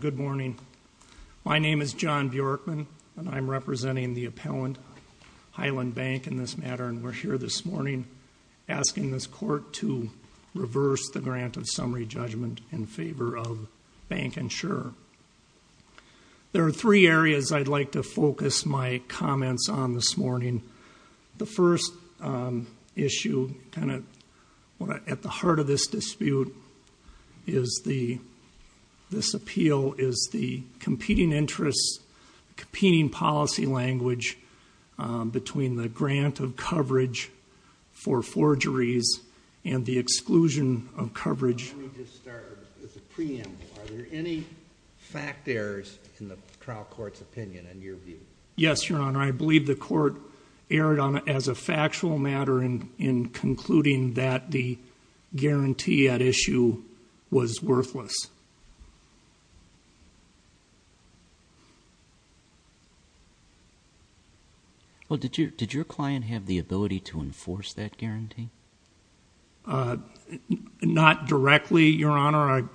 Good morning. My name is John Bjorkman and I'm representing the appellant, Highland Bank, in this matter and we're here this morning asking this court to reverse the grant of summary judgment in favor of BancInsure. There are three areas I'd like to focus my comments on this morning. The first issue, kind of at the heart of this dispute, is this appeal is the competing interests, competing policy language between the grant of coverage for forgeries and the exclusion of coverage. Let me just start with the preamble. Are there any fact errors in the trial court's opinion, in your view? Yes, Your Honor. I believe the court erred on it as a factual matter in concluding that the guarantee at issue was worthless. Did your client have the ability to enforce that guarantee? Not directly, Your Honor.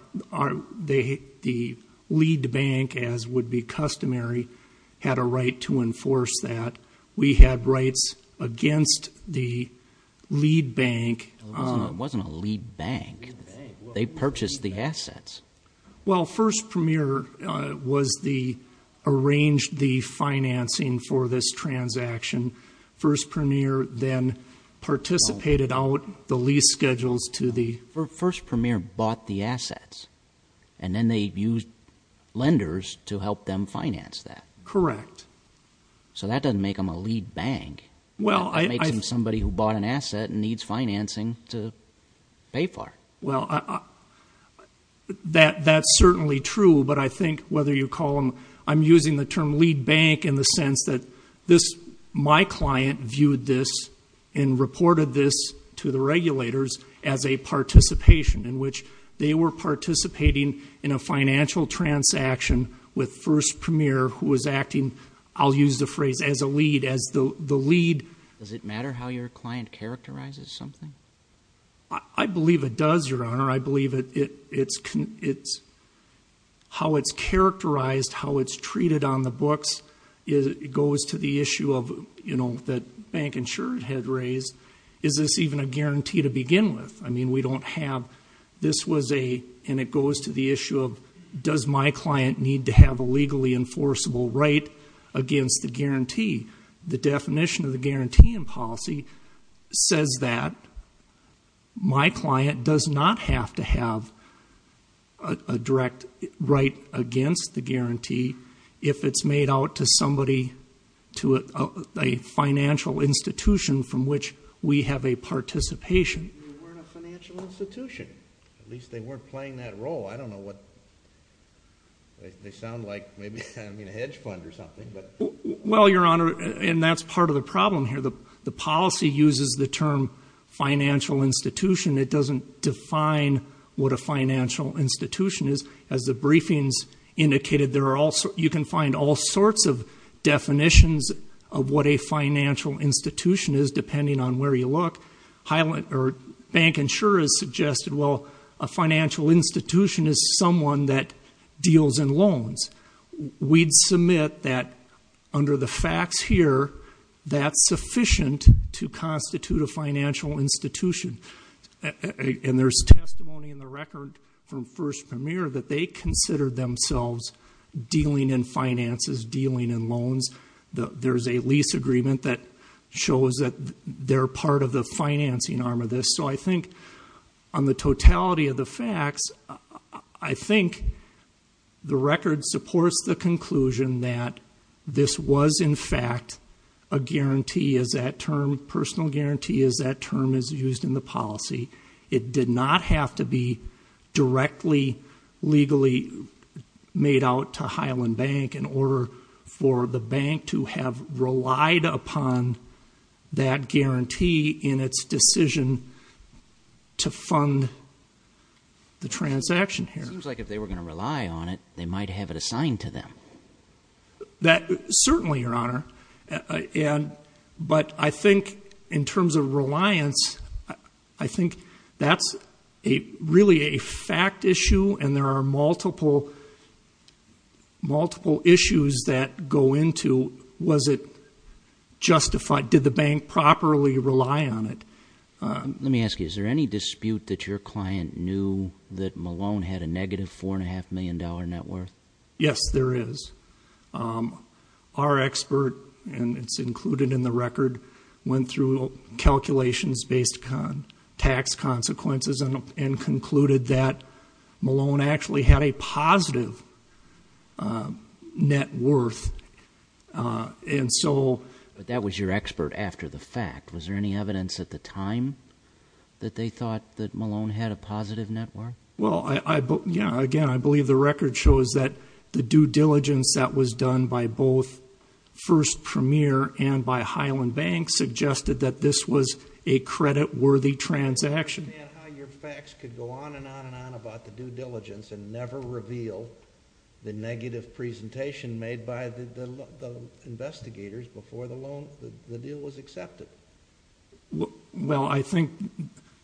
The lead bank, as would be customary, had a right to enforce that. We had rights against the lead bank. It wasn't a lead bank. They purchased the assets. Well, First Premier arranged the financing for this transaction. First Premier then participated out the lease schedules to the... First Premier bought the assets and then they used lenders to help them finance that. Correct. So that doesn't make them a lead bank. That makes them somebody who bought an asset and needs financing to pay for it. That's certainly true, but I think whether you call them... I'm using the term lead bank in the sense that my client viewed this and reported this to the regulators as a participation in which they were participating in a financial transaction with First Premier who was acting, I'll use the phrase, as a lead, as the lead... Does it matter how your client characterizes something? I believe it does, Your Honor. I believe it's... how it's characterized, how it's treated on the books goes to the issue that Bank Insurance had raised. Is this even a guarantee to begin with? I mean, we don't have... this was a... and it goes to the issue of does my client need to have a legally enforceable right against the guarantee? The definition of the guarantee in policy says that my client does not have to have a direct right against the guarantee if it's made out to somebody, to a financial institution from which we have a participation in. They weren't a financial institution. At least they weren't playing that role. I don't know what... they sound like maybe a hedge fund or something, but... Well, Your Honor, and that's part of the problem here. The policy uses the term financial institution. It doesn't define what a financial institution is. As the briefings indicated, you can find all sorts of definitions of what a financial institution is depending on where you look. Highland... or Bank Insurance suggested, well, a financial institution is someone that deals in loans. We'd submit that under the facts here, that's sufficient to constitute a financial institution. And there's testimony in the record from First Premier that they consider themselves dealing in finances, dealing in loans. There's a lease agreement that shows that they're part of the financing arm of this. So I think on the totality of the facts, I think the record supports the conclusion that this was in fact a guarantee, as that term, personal guarantee, as that term is used in the policy. It did not have to be directly, legally made out to Highland Bank in order for the bank to have relied upon that guarantee in its decision to fund the transaction here. Seems like if they were going to rely on it, they might have it assigned to them. That certainly, Your Honor. But I think in terms of reliance, I think that's really a fact issue, and there are multiple issues that go into, was it justified to rely on it? Did the bank properly rely on it? Let me ask you, is there any dispute that your client knew that Malone had a negative four and a half million dollar net worth? Yes, there is. Our expert, and it's included in the record, went through calculations based on tax consequences and concluded that Malone actually had a positive net worth. But that was your expert after the fact. Was there any evidence at the time that they thought that Malone had a positive net worth? Well, again, I believe the record shows that the due diligence that was done by both First Premier and by Highland Bank suggested that this was a credit worthy transaction. I don't understand how your facts could go on and on and on about the due diligence and never reveal the negative presentation made by the investigators before the deal was accepted. Well I think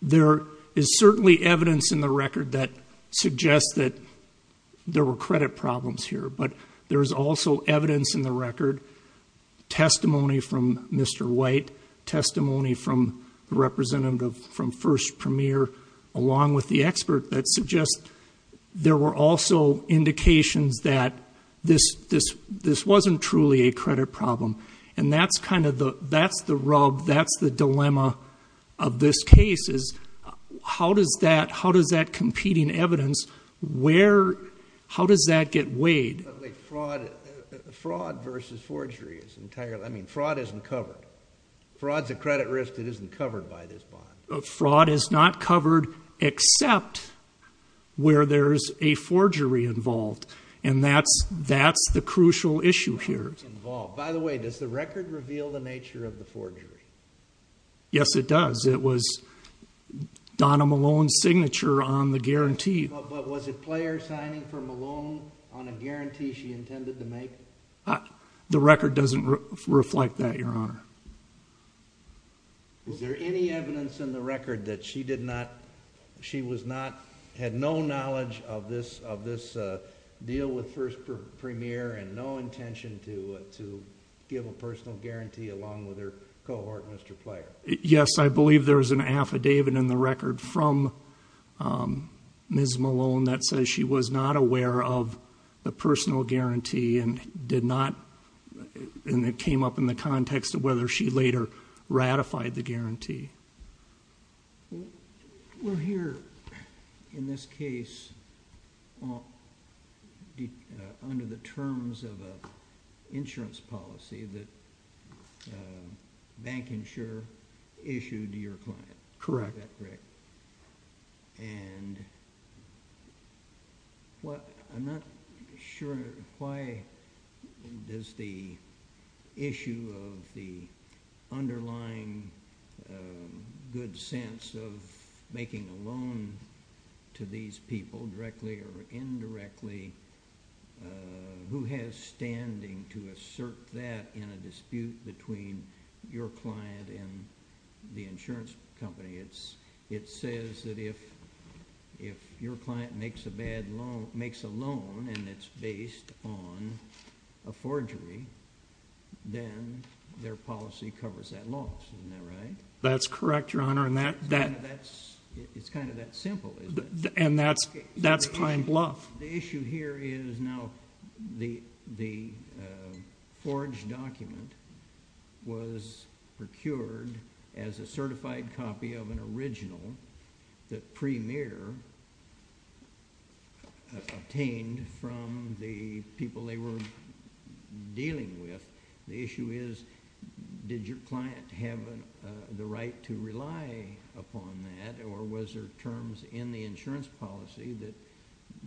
there is certainly evidence in the record that suggests that there were credit problems here, but there is also evidence in the record, testimony from Mr. White, testimony from the representative from First Premier, along with the expert, that suggests there were also indications that this wasn't truly a credit problem. And that's the rub, that's the dilemma of this case, is how does that competing evidence, how does that get weighed? But wait, fraud versus forgery is entirely, I mean fraud isn't covered. Fraud's a credit risk that isn't covered by this bond. Fraud is not covered except where there's a forgery involved, and that's the crucial issue here. By the way, does the record reveal the nature of the forgery? Yes it does. It was Donna Malone's signature on the guarantee. But was it Player signing for Malone on a guarantee she intended to make? The record doesn't reflect that, Your Honor. Is there any evidence in the record that she did not, she was not, had no knowledge of this deal with First Premier and no intention to give a personal guarantee along with her cohort, Mr. Player? Yes, I believe there is an affidavit in the record from Ms. Malone that says she was not aware of the personal guarantee and did not, and it came up in the context of whether she later ratified the guarantee. Well here, in this case, under the terms of an insurance policy that Bank Insure, Bank Insure issued to your client. Correct. Is that correct? And I'm not sure why does the issue of the underlying good sense of making a loan to these people, directly or indirectly, who has standing to assert that in a dispute between your client and the insurance company. It says that if your client makes a bad loan, makes a loan and it's based on a forgery, then their policy covers that loss. Isn't that right? That's correct, Your Honor. It's kind of that simple, isn't it? And that's Pine Bluff. The issue here is now the forged document was procured as a certified copy of an original that Premier obtained from the people they were dealing with. The issue is, did your client have the right to rely upon that or was there terms in the insurance policy that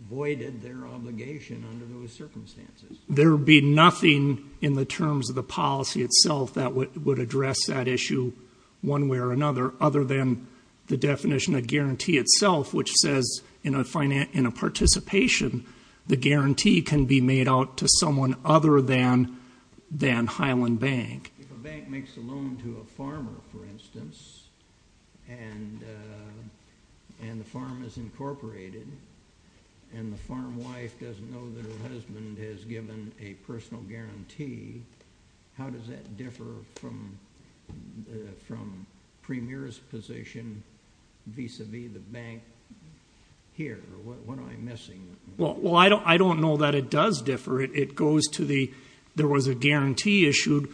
avoided their obligation under those circumstances? There would be nothing in the terms of the policy itself that would address that issue one way or another, other than the definition of guarantee itself, which says in a participation, the guarantee can be made out to someone other than Highland Bank. If a bank makes a loan to a farmer, for instance, and the farm is incorporated, and the farmer wife doesn't know that her husband has given a personal guarantee, how does that differ from Premier's position vis-a-vis the bank here? What am I missing? I don't know that it does differ. There was a guarantee issued.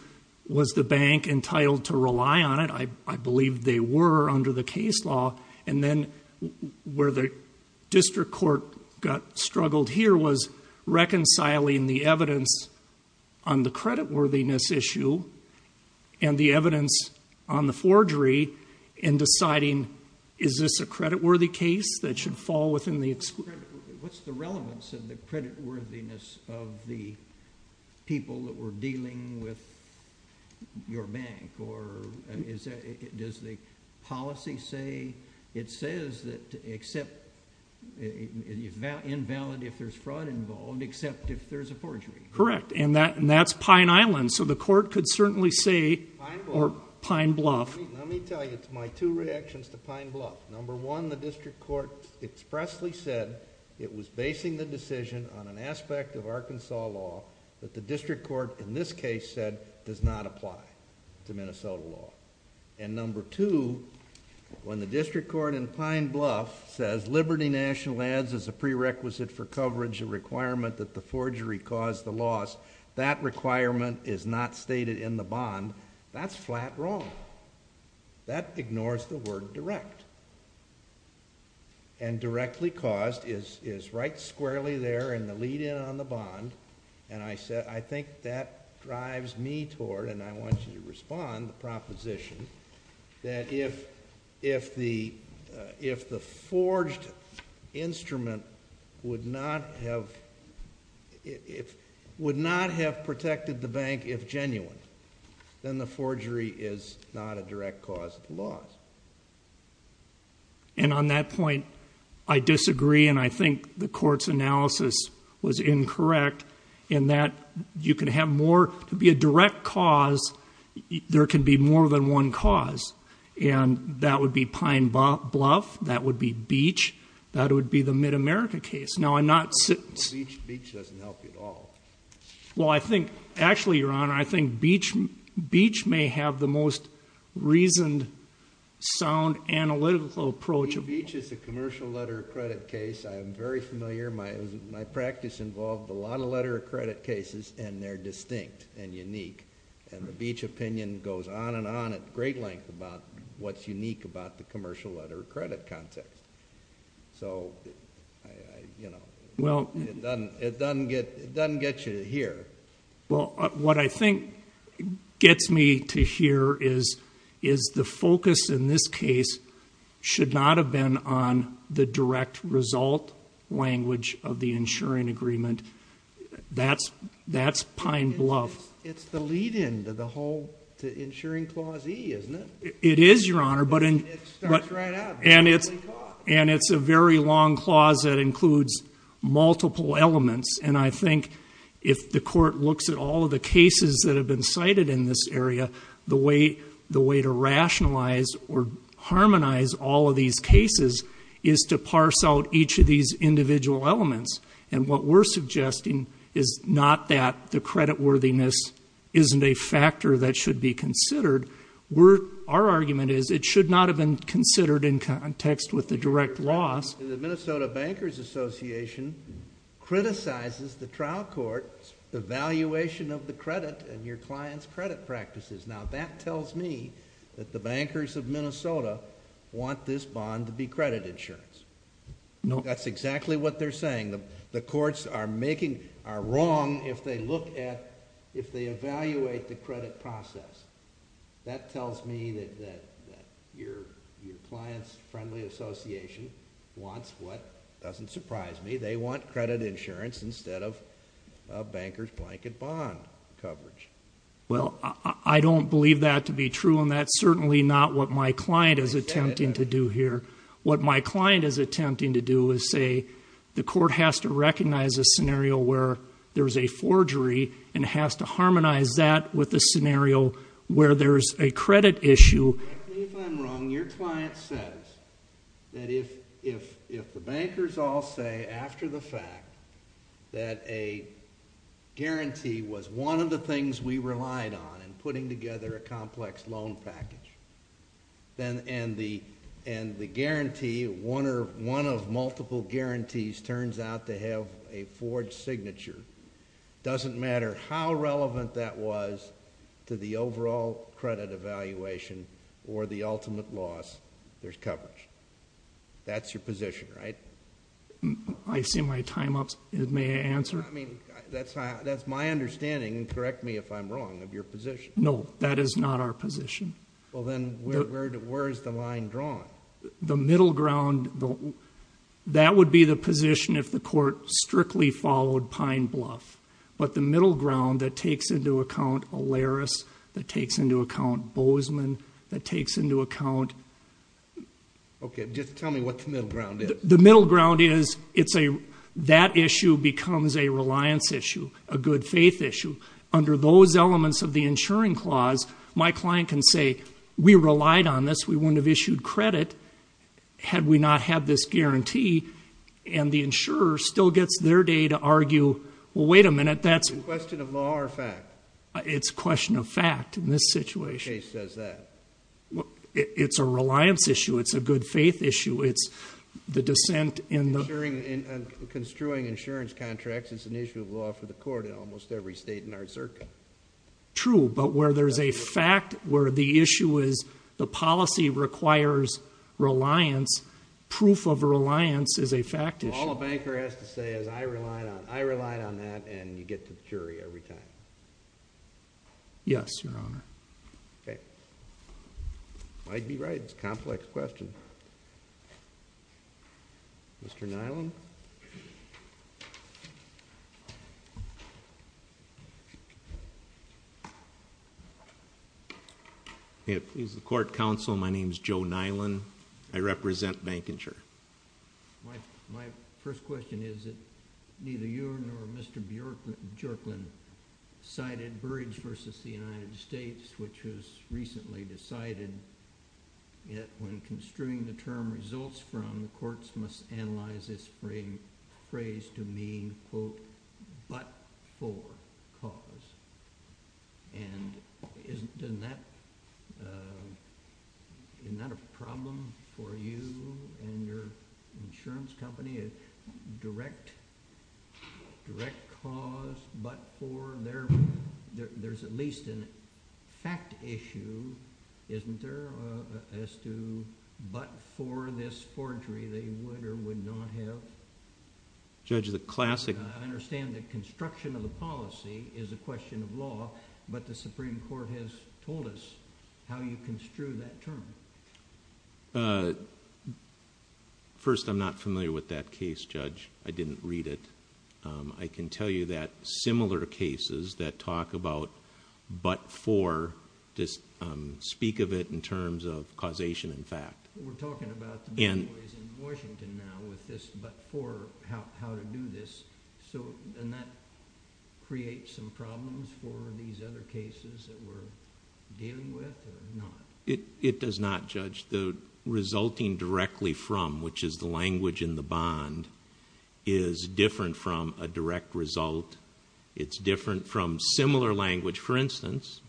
Was the bank entitled to rely on it? I believe they were under the case law. And then where the district court got struggled here was reconciling the evidence on the creditworthiness issue and the evidence on the forgery and deciding, is this a creditworthy case that should fall within the exclusion? What's the relevance of the creditworthiness of the people that were dealing with your bank? Or does the policy say it says that except, you can't have creditworthiness, invalid if there's fraud involved, except if there's a forgery? Correct. And that's Pine Island. So the court could certainly say, or Pine Bluff. Let me tell you my two reactions to Pine Bluff. Number one, the district court expressly said it was basing the decision on an aspect of Arkansas law that the district court in this case said does not apply to Minnesota law. And number two, when the district court in this case says there's a prerequisite for coverage, a requirement that the forgery caused the loss, that requirement is not stated in the bond. That's flat wrong. That ignores the word direct. And directly caused is right squarely there in the lead in on the bond. And I think that drives me toward, and I want you to respond, the proposition that if the forged instrument would not have protected the bank if genuine, then the forgery is not a direct cause of the loss. And on that point, I disagree and I think the court's analysis was incorrect in that you can have more, to be a direct cause, there can be more than one cause. And that would be Pine Bluff, that would be Beach, that would be the Mid-America case. Now, I'm not saying... Beach doesn't help you at all. Well, I think, actually, Your Honor, I think Beach may have the most reasoned, sound, analytical approach of all. Beach is a commercial letter of credit case. I am very familiar. My practice involved a lot of letter of credit cases and they're distinct and unique. And the Beach opinion goes on and on at great length about what's unique about the commercial letter of credit context. So, you know, it doesn't get you here. Well, what I think gets me to here is the focus in this case should not have been on the direct result language of the insuring agreement. That's Pine Bluff. It's the lead-in to the whole insuring clause E, isn't it? It is, Your Honor, and it's a very long clause that includes multiple elements. And I think if the court looks at all of the cases that have been cited in this area, the way to rationalize or harmonize all of these cases is to parse out each of these individual elements. And what we're suggesting is not that the creditworthiness isn't a factor that should be considered. Our argument is it should not have been considered in context with the direct loss. The Minnesota Bankers Association criticizes the trial court's evaluation of the credit and your client's credit practices. Now, that tells me that the bankers of Minnesota want this bond to be credit insurance. No. That's exactly what they're saying. The courts are wrong if they evaluate the credit process. That tells me that your client's friendly association wants what doesn't surprise me. They want credit insurance instead of a banker's blanket bond coverage. Well, I don't believe that to be true, and that's certainly not what my client is attempting to do here. What my client is attempting to do is say the court has to recognize a scenario where there's a forgery and has to harmonize that with a scenario where there's a credit issue. Correct me if I'm wrong, your client says that if the bankers all say after the fact that a guarantee was one of the things we relied on in putting together a complex loan package, and the guarantee, one of multiple guarantees turns out to have a forged signature, doesn't matter how relevant that was to the overall credit evaluation or the ultimate loss, there's coverage. That's your position, right? I see my time up. May I answer? That's my understanding, and correct me if I'm wrong, of your position. No, that is not our position. Well, then where is the line drawn? The middle ground, that would be the position if the court strictly followed Pine Bluff, but the middle ground that takes into account Olaris, that takes into account Bozeman, that takes into account... Okay, just tell me what the middle ground is. The middle ground is that issue becomes a reliance issue, a good faith issue. Under those elements of the insuring clause, my client can say, we relied on this, we wouldn't have issued credit had we not had this guarantee, and the insurer still gets their day to argue, well, wait a minute, that's... Is it a question of law or fact? It's a question of fact in this situation. What case says that? It's a reliance issue, it's a good faith issue, it's the dissent in the... Insuring and construing insurance contracts is an issue of law for the court in almost every state in our circuit. True, but where there's a fact, where the issue is the policy requires reliance, proof of reliance is a fact issue. All a banker has to say is, I relied on that, and you get to the jury every time. Yes, Your Honor. Okay. Might be right, it's a complex question. Mr. Nyland? He's the court counsel, my name's Joe Nyland, I represent Bank Insure. My first question is that neither you nor Mr. Jerkland cited Burrage v. The United States, which was recently decided that when construing the term results from, the courts must analyze this phrase to mean, quote, but for cause. Isn't that a problem for you and your insurance company, a direct cause, but for, there's at least a fact issue, isn't there, as to how you construct that term? I'm not familiar with that case, Judge. I didn't read it. I can tell you that similar cases that talk about, but for, speak of it in terms of causation and fact. We're talking about the bad boys in Washington now with this, but for, how to do this, and that creates some problems for these other cases that we're dealing with, or not? It does not, Judge. The resulting directly from, which is the language in the bond, is different from a direct result. It's different from similar language. For instance...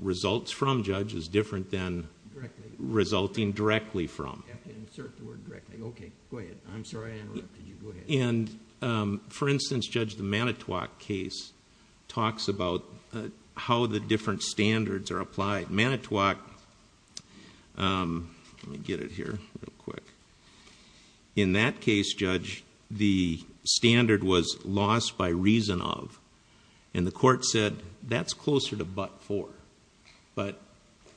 Results from, Judge, is different than resulting directly from. For instance, Judge, the Manitowoc case talks about how the different standards are applied. Manitowoc, let me get it here real quick. In that case, Judge, the standard was lost by reason of, and the court said, that's closer to but for, but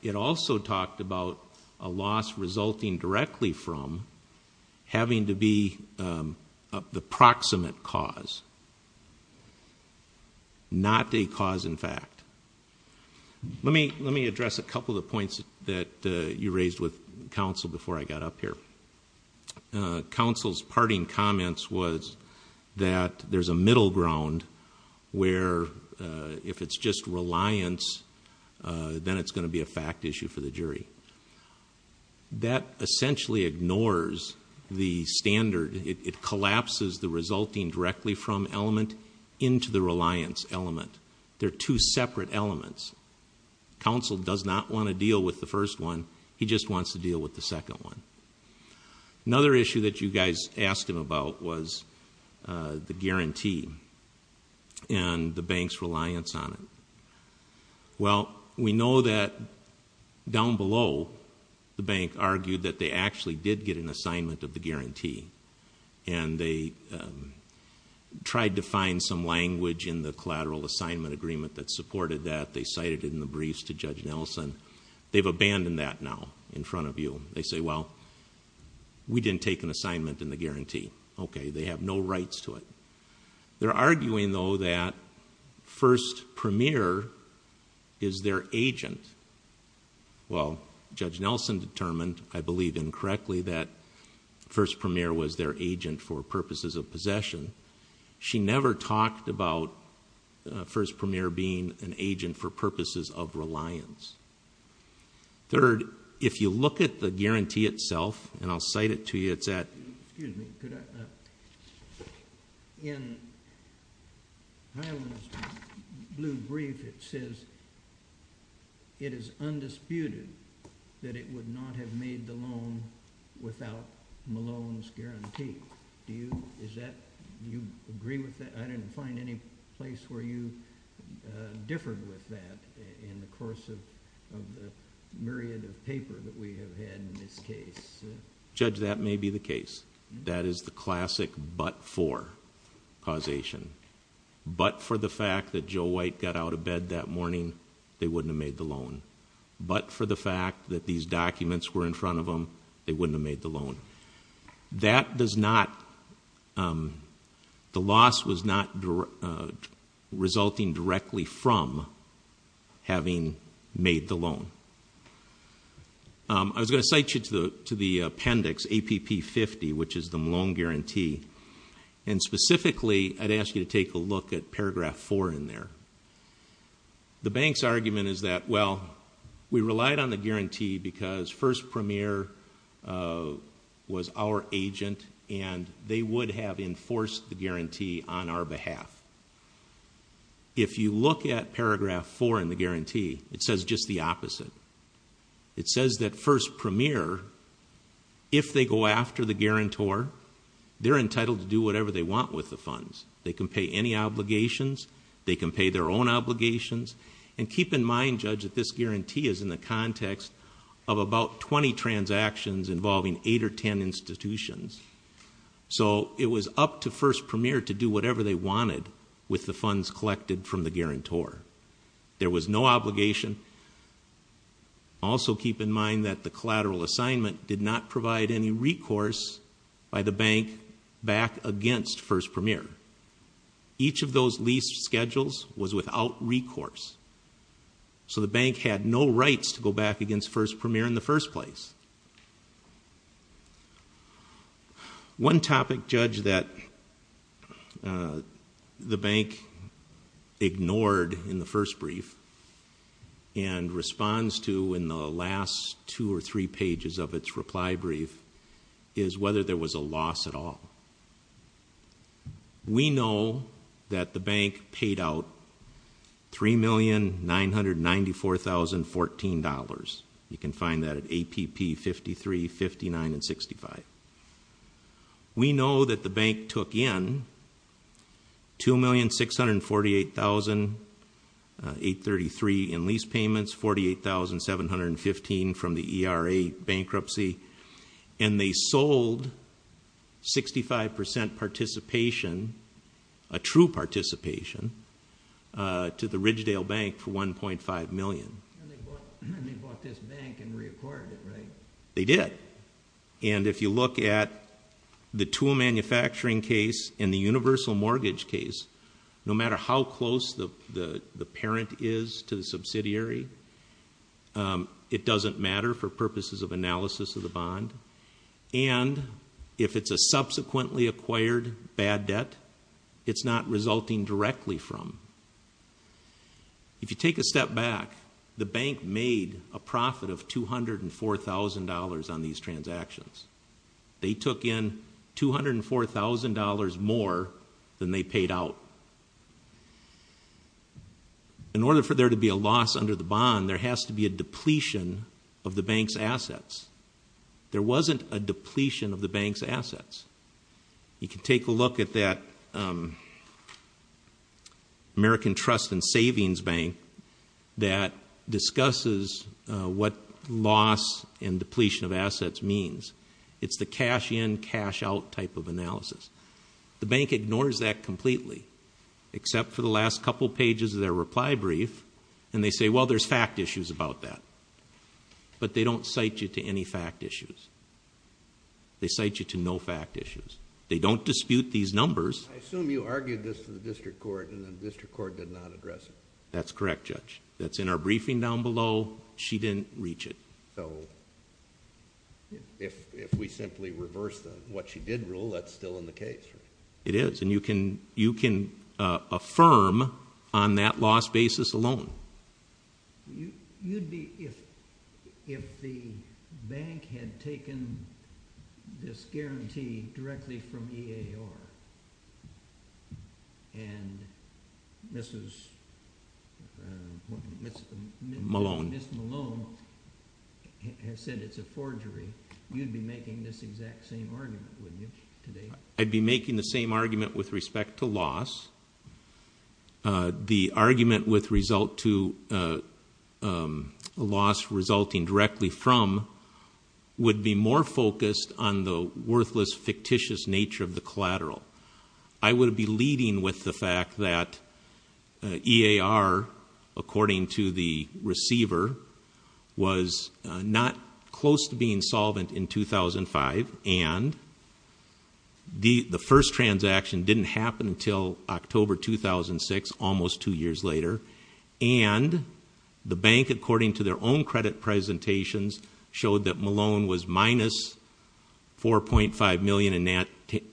it also talked about a loss resulting directly from having to be the proximate cause, not a cause in fact. Let me address a couple of the points that you raised with counsel before I got up here. Counsel's parting comments was that there's a middle ground where if it's just reliance, then it's going to be a fact issue for the jury. That essentially ignores the standard. It collapses the resulting directly from element into the reliance element. They're two separate elements. Counsel does not want to deal with the first one. He just wants to deal with the second one. Another issue that you guys asked him about was the guarantee and the bank's reliance on it. Well, we know that down below, the bank argued that they actually did get an assignment of the guarantee and they tried to find some language in the collateral assignment agreement that supported that. They cited it in the briefs to Judge Nelson. They've abandoned that now in front of you. They say, well, we didn't take an assignment in the guarantee. Okay, they have no rights to it. They're arguing though that First Premier is their agent. Well, Judge Nelson determined, I believe incorrectly, that First Premier was their agent for purposes of possession. She never talked about First Premier being an agent for purposes of reliance. Third, if you look at the guarantee itself, and I'll cite it to you, it's at... In Highland's blue brief, it says, it is undisputed that it would not have made the loan without Malone's guarantee. Do you agree with that? I didn't find any place where you differed with that in the course of the myriad of paper that we have had in this case. Judge, that may be the case. That is the classic but for causation. But for the fact that Joe White got out of bed that morning, they wouldn't have made the loan. But for the fact that these documents were in front of them, they wouldn't have made the loan. That does not... The loss was not resulting directly from having made the loan. I was going to cite you to the appendix, APP50, which is the Malone guarantee. And specifically, I'd ask you to take a look at paragraph four in there. The bank's argument is that, well, we relied on the guarantee because First Premier was our agent and they would have enforced the guarantee on our behalf. If you look at paragraph four in the guarantee, it says just the opposite. It says that First Premier, if they go after the guarantor, they're entitled to do whatever they want with the funds. They can pay any obligations. They can pay their own obligations. And keep in mind, Judge, that this guarantee is in the context of about 20 transactions involving eight or 10 institutions. So it was up to First Premier to do whatever they wanted with the funds collected from the guarantor. There was no obligation. Also keep in mind that the collateral assignment did not provide any recourse by the bank back against First Premier. Each of those lease schedules was without recourse. So the bank had no rights to go back against First Premier in the first place. One topic, Judge, that the bank ignored in the first brief and responds to in the last two or three pages of its reply brief, is whether there was a loss at all. We know that the bank paid out $3,994,014. You can find that at APP 53, 59, and 65. We know that the bank took in $2,648,833 in lease payments, $48,715 from the ERA bankruptcy. And they sold 65% participation, a true participation, to the Ridgedale Bank for $1.5 million. And they bought this bank and reacquired it, right? They did. And if you look at the tool manufacturing case and the universal mortgage case, no matter how close the parent is to the subsidiary, it doesn't matter for purposes of analysis of the bond. And if it's a subsequently acquired bad debt, it's not resulting directly from. If you take a step back, the bank made a profit of $204,000 on these transactions. They took in $204,000 more than they paid out. In order for there to be a loss under the bond, there has to be a depletion of the bank's assets. There wasn't a depletion of the bank's assets. You can take a look at that American Trust and Savings Bank that discusses what loss and depletion of assets means. It's the cash in, cash out type of analysis. The bank ignores that completely, except for the last couple pages of their reply brief. And they say, well, there's fact issues about that. But they don't cite you to any fact issues. They cite you to no fact issues. They don't dispute these numbers. I assume you argued this to the district court and the district court did not address it. That's correct, Judge. That's in our briefing down below. She didn't reach it. So, if we simply reverse what she did rule, that's still in the case. It is. And you can affirm on that loss basis alone. You'd be, if the bank had taken this guarantee directly from EAR and Mrs. Savings Bank had said it's a forgery, you'd be making this exact same argument, wouldn't you, today? I'd be making the same argument with respect to loss. The argument with result to loss resulting directly from would be more focused on the worthless, fictitious nature of the collateral. I would be leading with the fact that EAR, according to the receiver, was not close to being solvent in 2005. And the first transaction didn't happen until October 2006, almost two years later. And the bank, according to their own credit presentations, showed that Malone was minus $4.5 million in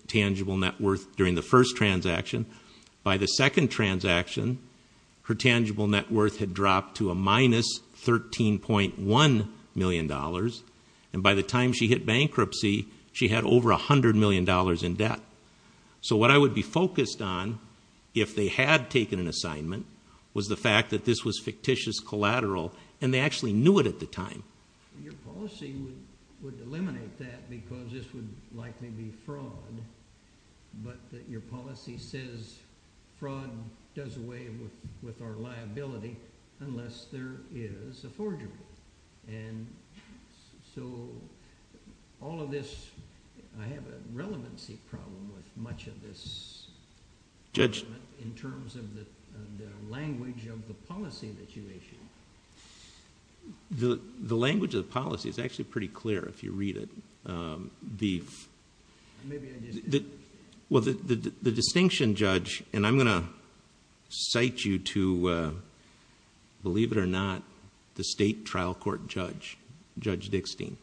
tangible net worth during the first transaction. By the second transaction, her tangible net worth had dropped to a minus $13.1 million. And by the time she hit bankruptcy, she had over $100 million in debt. So what I would be focused on, if they had taken an assignment, was the fact that this was fictitious collateral. And they would eliminate that because this would likely be fraud, but that your policy says fraud does away with our liability unless there is a forgery. And so all of this, I have a relevancy problem with much of this in terms of the language of the policy that you issued. The language of the policy is actually pretty clear if you read it. The distinction judge, and I'm going to cite you to, believe it or not, the state trial court judge, Judge Dickstein.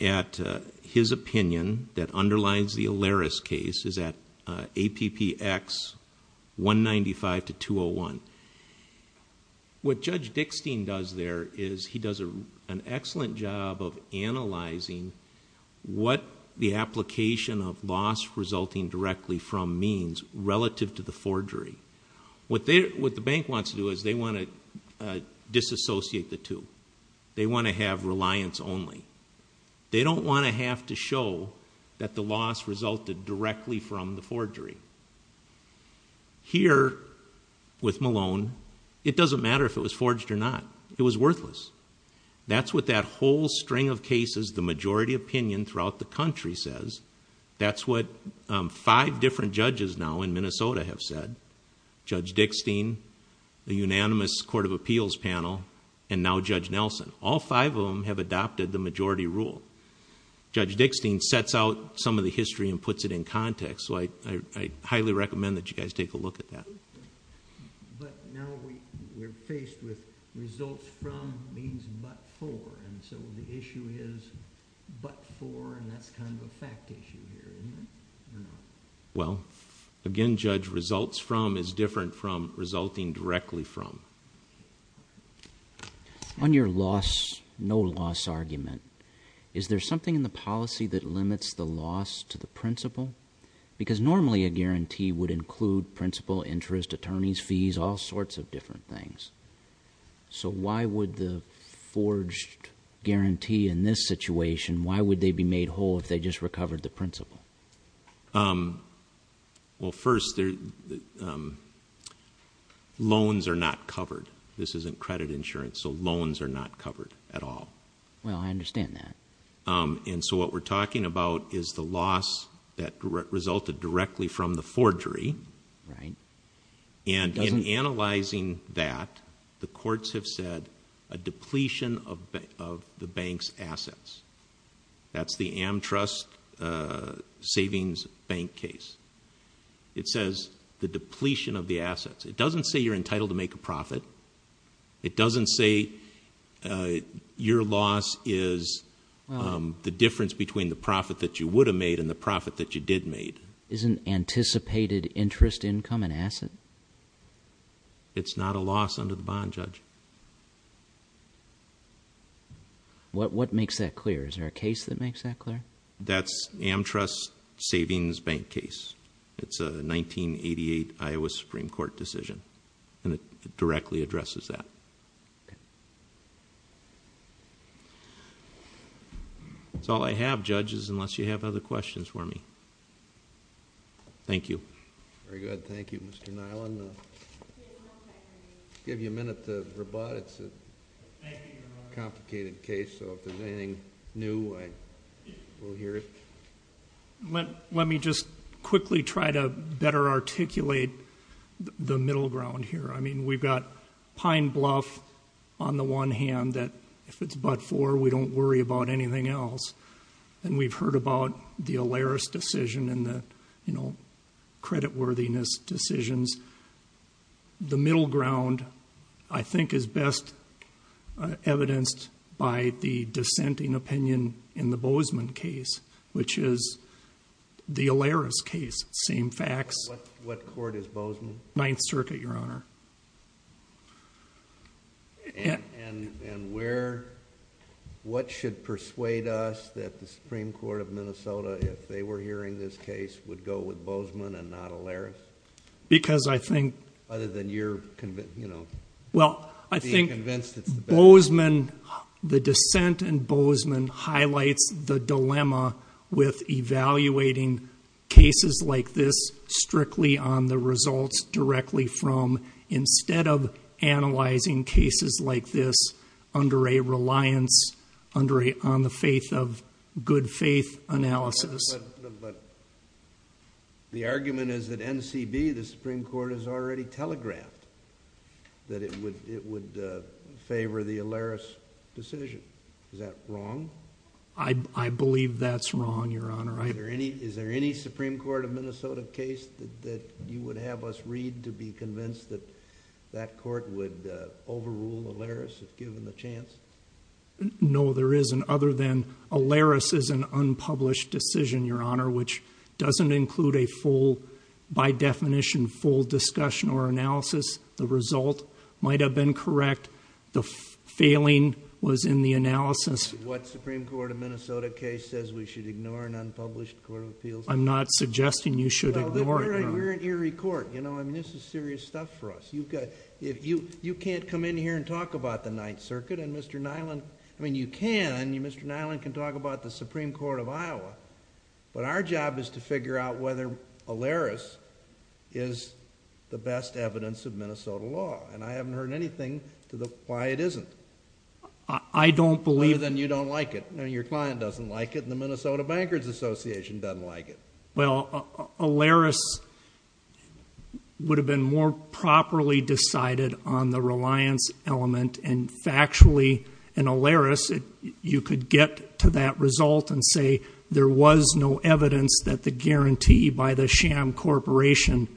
At his opinion, that underlines the Alaris case, is at APPX 195 to 201. The distinction judge, what Judge Dickstein does there is he does an excellent job of analyzing what the application of loss resulting directly from means relative to the forgery. What the bank wants to do is they want to disassociate the two. They want to have reliance only. They don't want to have to show that the loss resulted directly from the forgery. Here, with Malone, it doesn't matter if it was forged or not. It was worthless. That's what that whole string of cases, the majority opinion throughout the country says. That's what five different judges now in Minnesota have said. Judge Dickstein, the unanimous Court of Appeals panel, and now Judge Nelson. All five of them have adopted the majority rule. Judge Dickstein sets out some of the history and puts it in context, so I highly recommend that you guys take a look at that. But now we're faced with results from means but for, and so the issue is but for and that's kind of a fact issue here, isn't it? Well, again, Judge, results from is different from resulting directly from. On your loss, no loss argument, is there something in the policy that limits the loss to the principal, interest, attorneys, fees, all sorts of different things. So why would the forged guarantee in this situation, why would they be made whole if they just recovered the principal? Well, first, loans are not covered. This isn't credit insurance, so loans are not covered at all. Well, I understand that. And so what we're talking about is the loss that resulted directly from the forgery. Right. And in analyzing that, the courts have said a depletion of the bank's assets. That's the AmTrust Savings Bank case. It says the depletion of the assets. It doesn't say you're between the profit that you would have made and the profit that you did made. Isn't anticipated interest income an asset? It's not a loss under the bond, Judge. What makes that clear? Is there a case that makes that clear? That's AmTrust Savings Bank case. It's a 1988 Iowa Supreme Court decision and it directly addresses that. Okay. That's all I have, Judges, unless you have other questions for me. Thank you. Very good. Thank you, Mr. Nyland. Give you a minute to rebut. It's a complicated case, so if there's anything new, I will hear it. Let me just quickly try to better articulate the middle ground here. I mean, we've got a fine bluff on the one hand that if it's but-for, we don't worry about anything else. And we've heard about the Alaris decision and the, you know, creditworthiness decisions. The middle ground, I think, is best evidenced by the dissenting opinion in the Bozeman case, which is the Alaris case. Same facts. What court is Bozeman? Ninth Circuit, Your Honor. And where, what should persuade us that the Supreme Court of Minnesota, if they were hearing this case, would go with Bozeman and not Alaris? Because I think... Other than you're convinced, you know... Well, I think Bozeman, the dissent in Bozeman highlights the dilemma with evaluating cases like this strictly on the results directly from, instead of analyzing cases like this under a reliance on the faith of good faith analysis. But the argument is that NCB, the Supreme Court, has already telegraphed that it would favor the Alaris decision. Is that wrong? I believe that's wrong, Your Honor. Is there any Supreme Court of Minnesota case that you would have us read to be convinced that that court would overrule Alaris, if given the chance? No, there isn't, other than Alaris is an unpublished decision, Your Honor, which doesn't include a full, by definition, full discussion or analysis. The result might have been correct. The failing was in the analysis. What Supreme Court of Minnesota case says we should ignore an unpublished court of appeals? I'm not suggesting you should ignore it, Your Honor. Well, we're an eerie court, you know. I mean, this is serious stuff for us. You can't come in here and talk about the Ninth Circuit, and Mr. Nyland... I mean, you can. Mr. Nyland can talk about the Supreme Court of Iowa. But our job is to figure out whether Alaris is the best evidence of Minnesota law. And I haven't heard anything to the... why it isn't. I don't believe... Other than you don't like it, and your client doesn't like it, and the Minnesota Bankers Association doesn't like it. Well, Alaris would have been more properly decided on the reliance element, and factually in Alaris you could get to that result and say there was no evidence that the guarantee by the sham corporation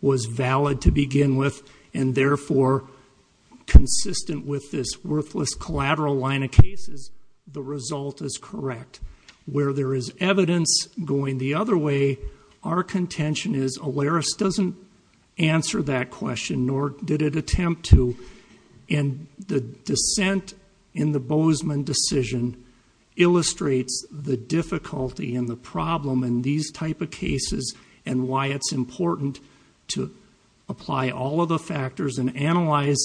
was valid to begin with and therefore consistent with this worthless collateral line of cases, the result is correct. Where there is evidence going the other way, our contention is Alaris doesn't answer that question, nor did it attempt to. And the dissent in the Bozeman decision illustrates the difficulty and the problem in these type of cases and why it's important to apply all of the factors and analyze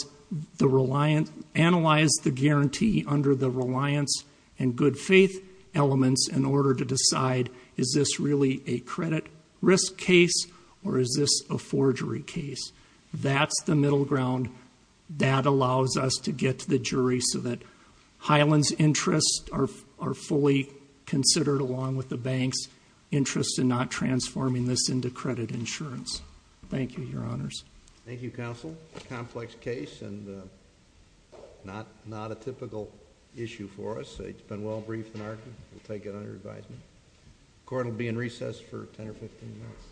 the guarantee under the reliance and good faith elements in order to decide is this really a credit risk case or is this a forgery case. That's the middle ground. That allows us to get to the jury so that Hyland's interests are fully considered, along with the bank's interest in not transforming this into credit insurance. Thank you, Your Honors. Thank you, Counsel. Complex case and not a typical issue for us. It's been well briefed and argued. We'll take it under advisement. Court will be in recess for 10 or 15 minutes.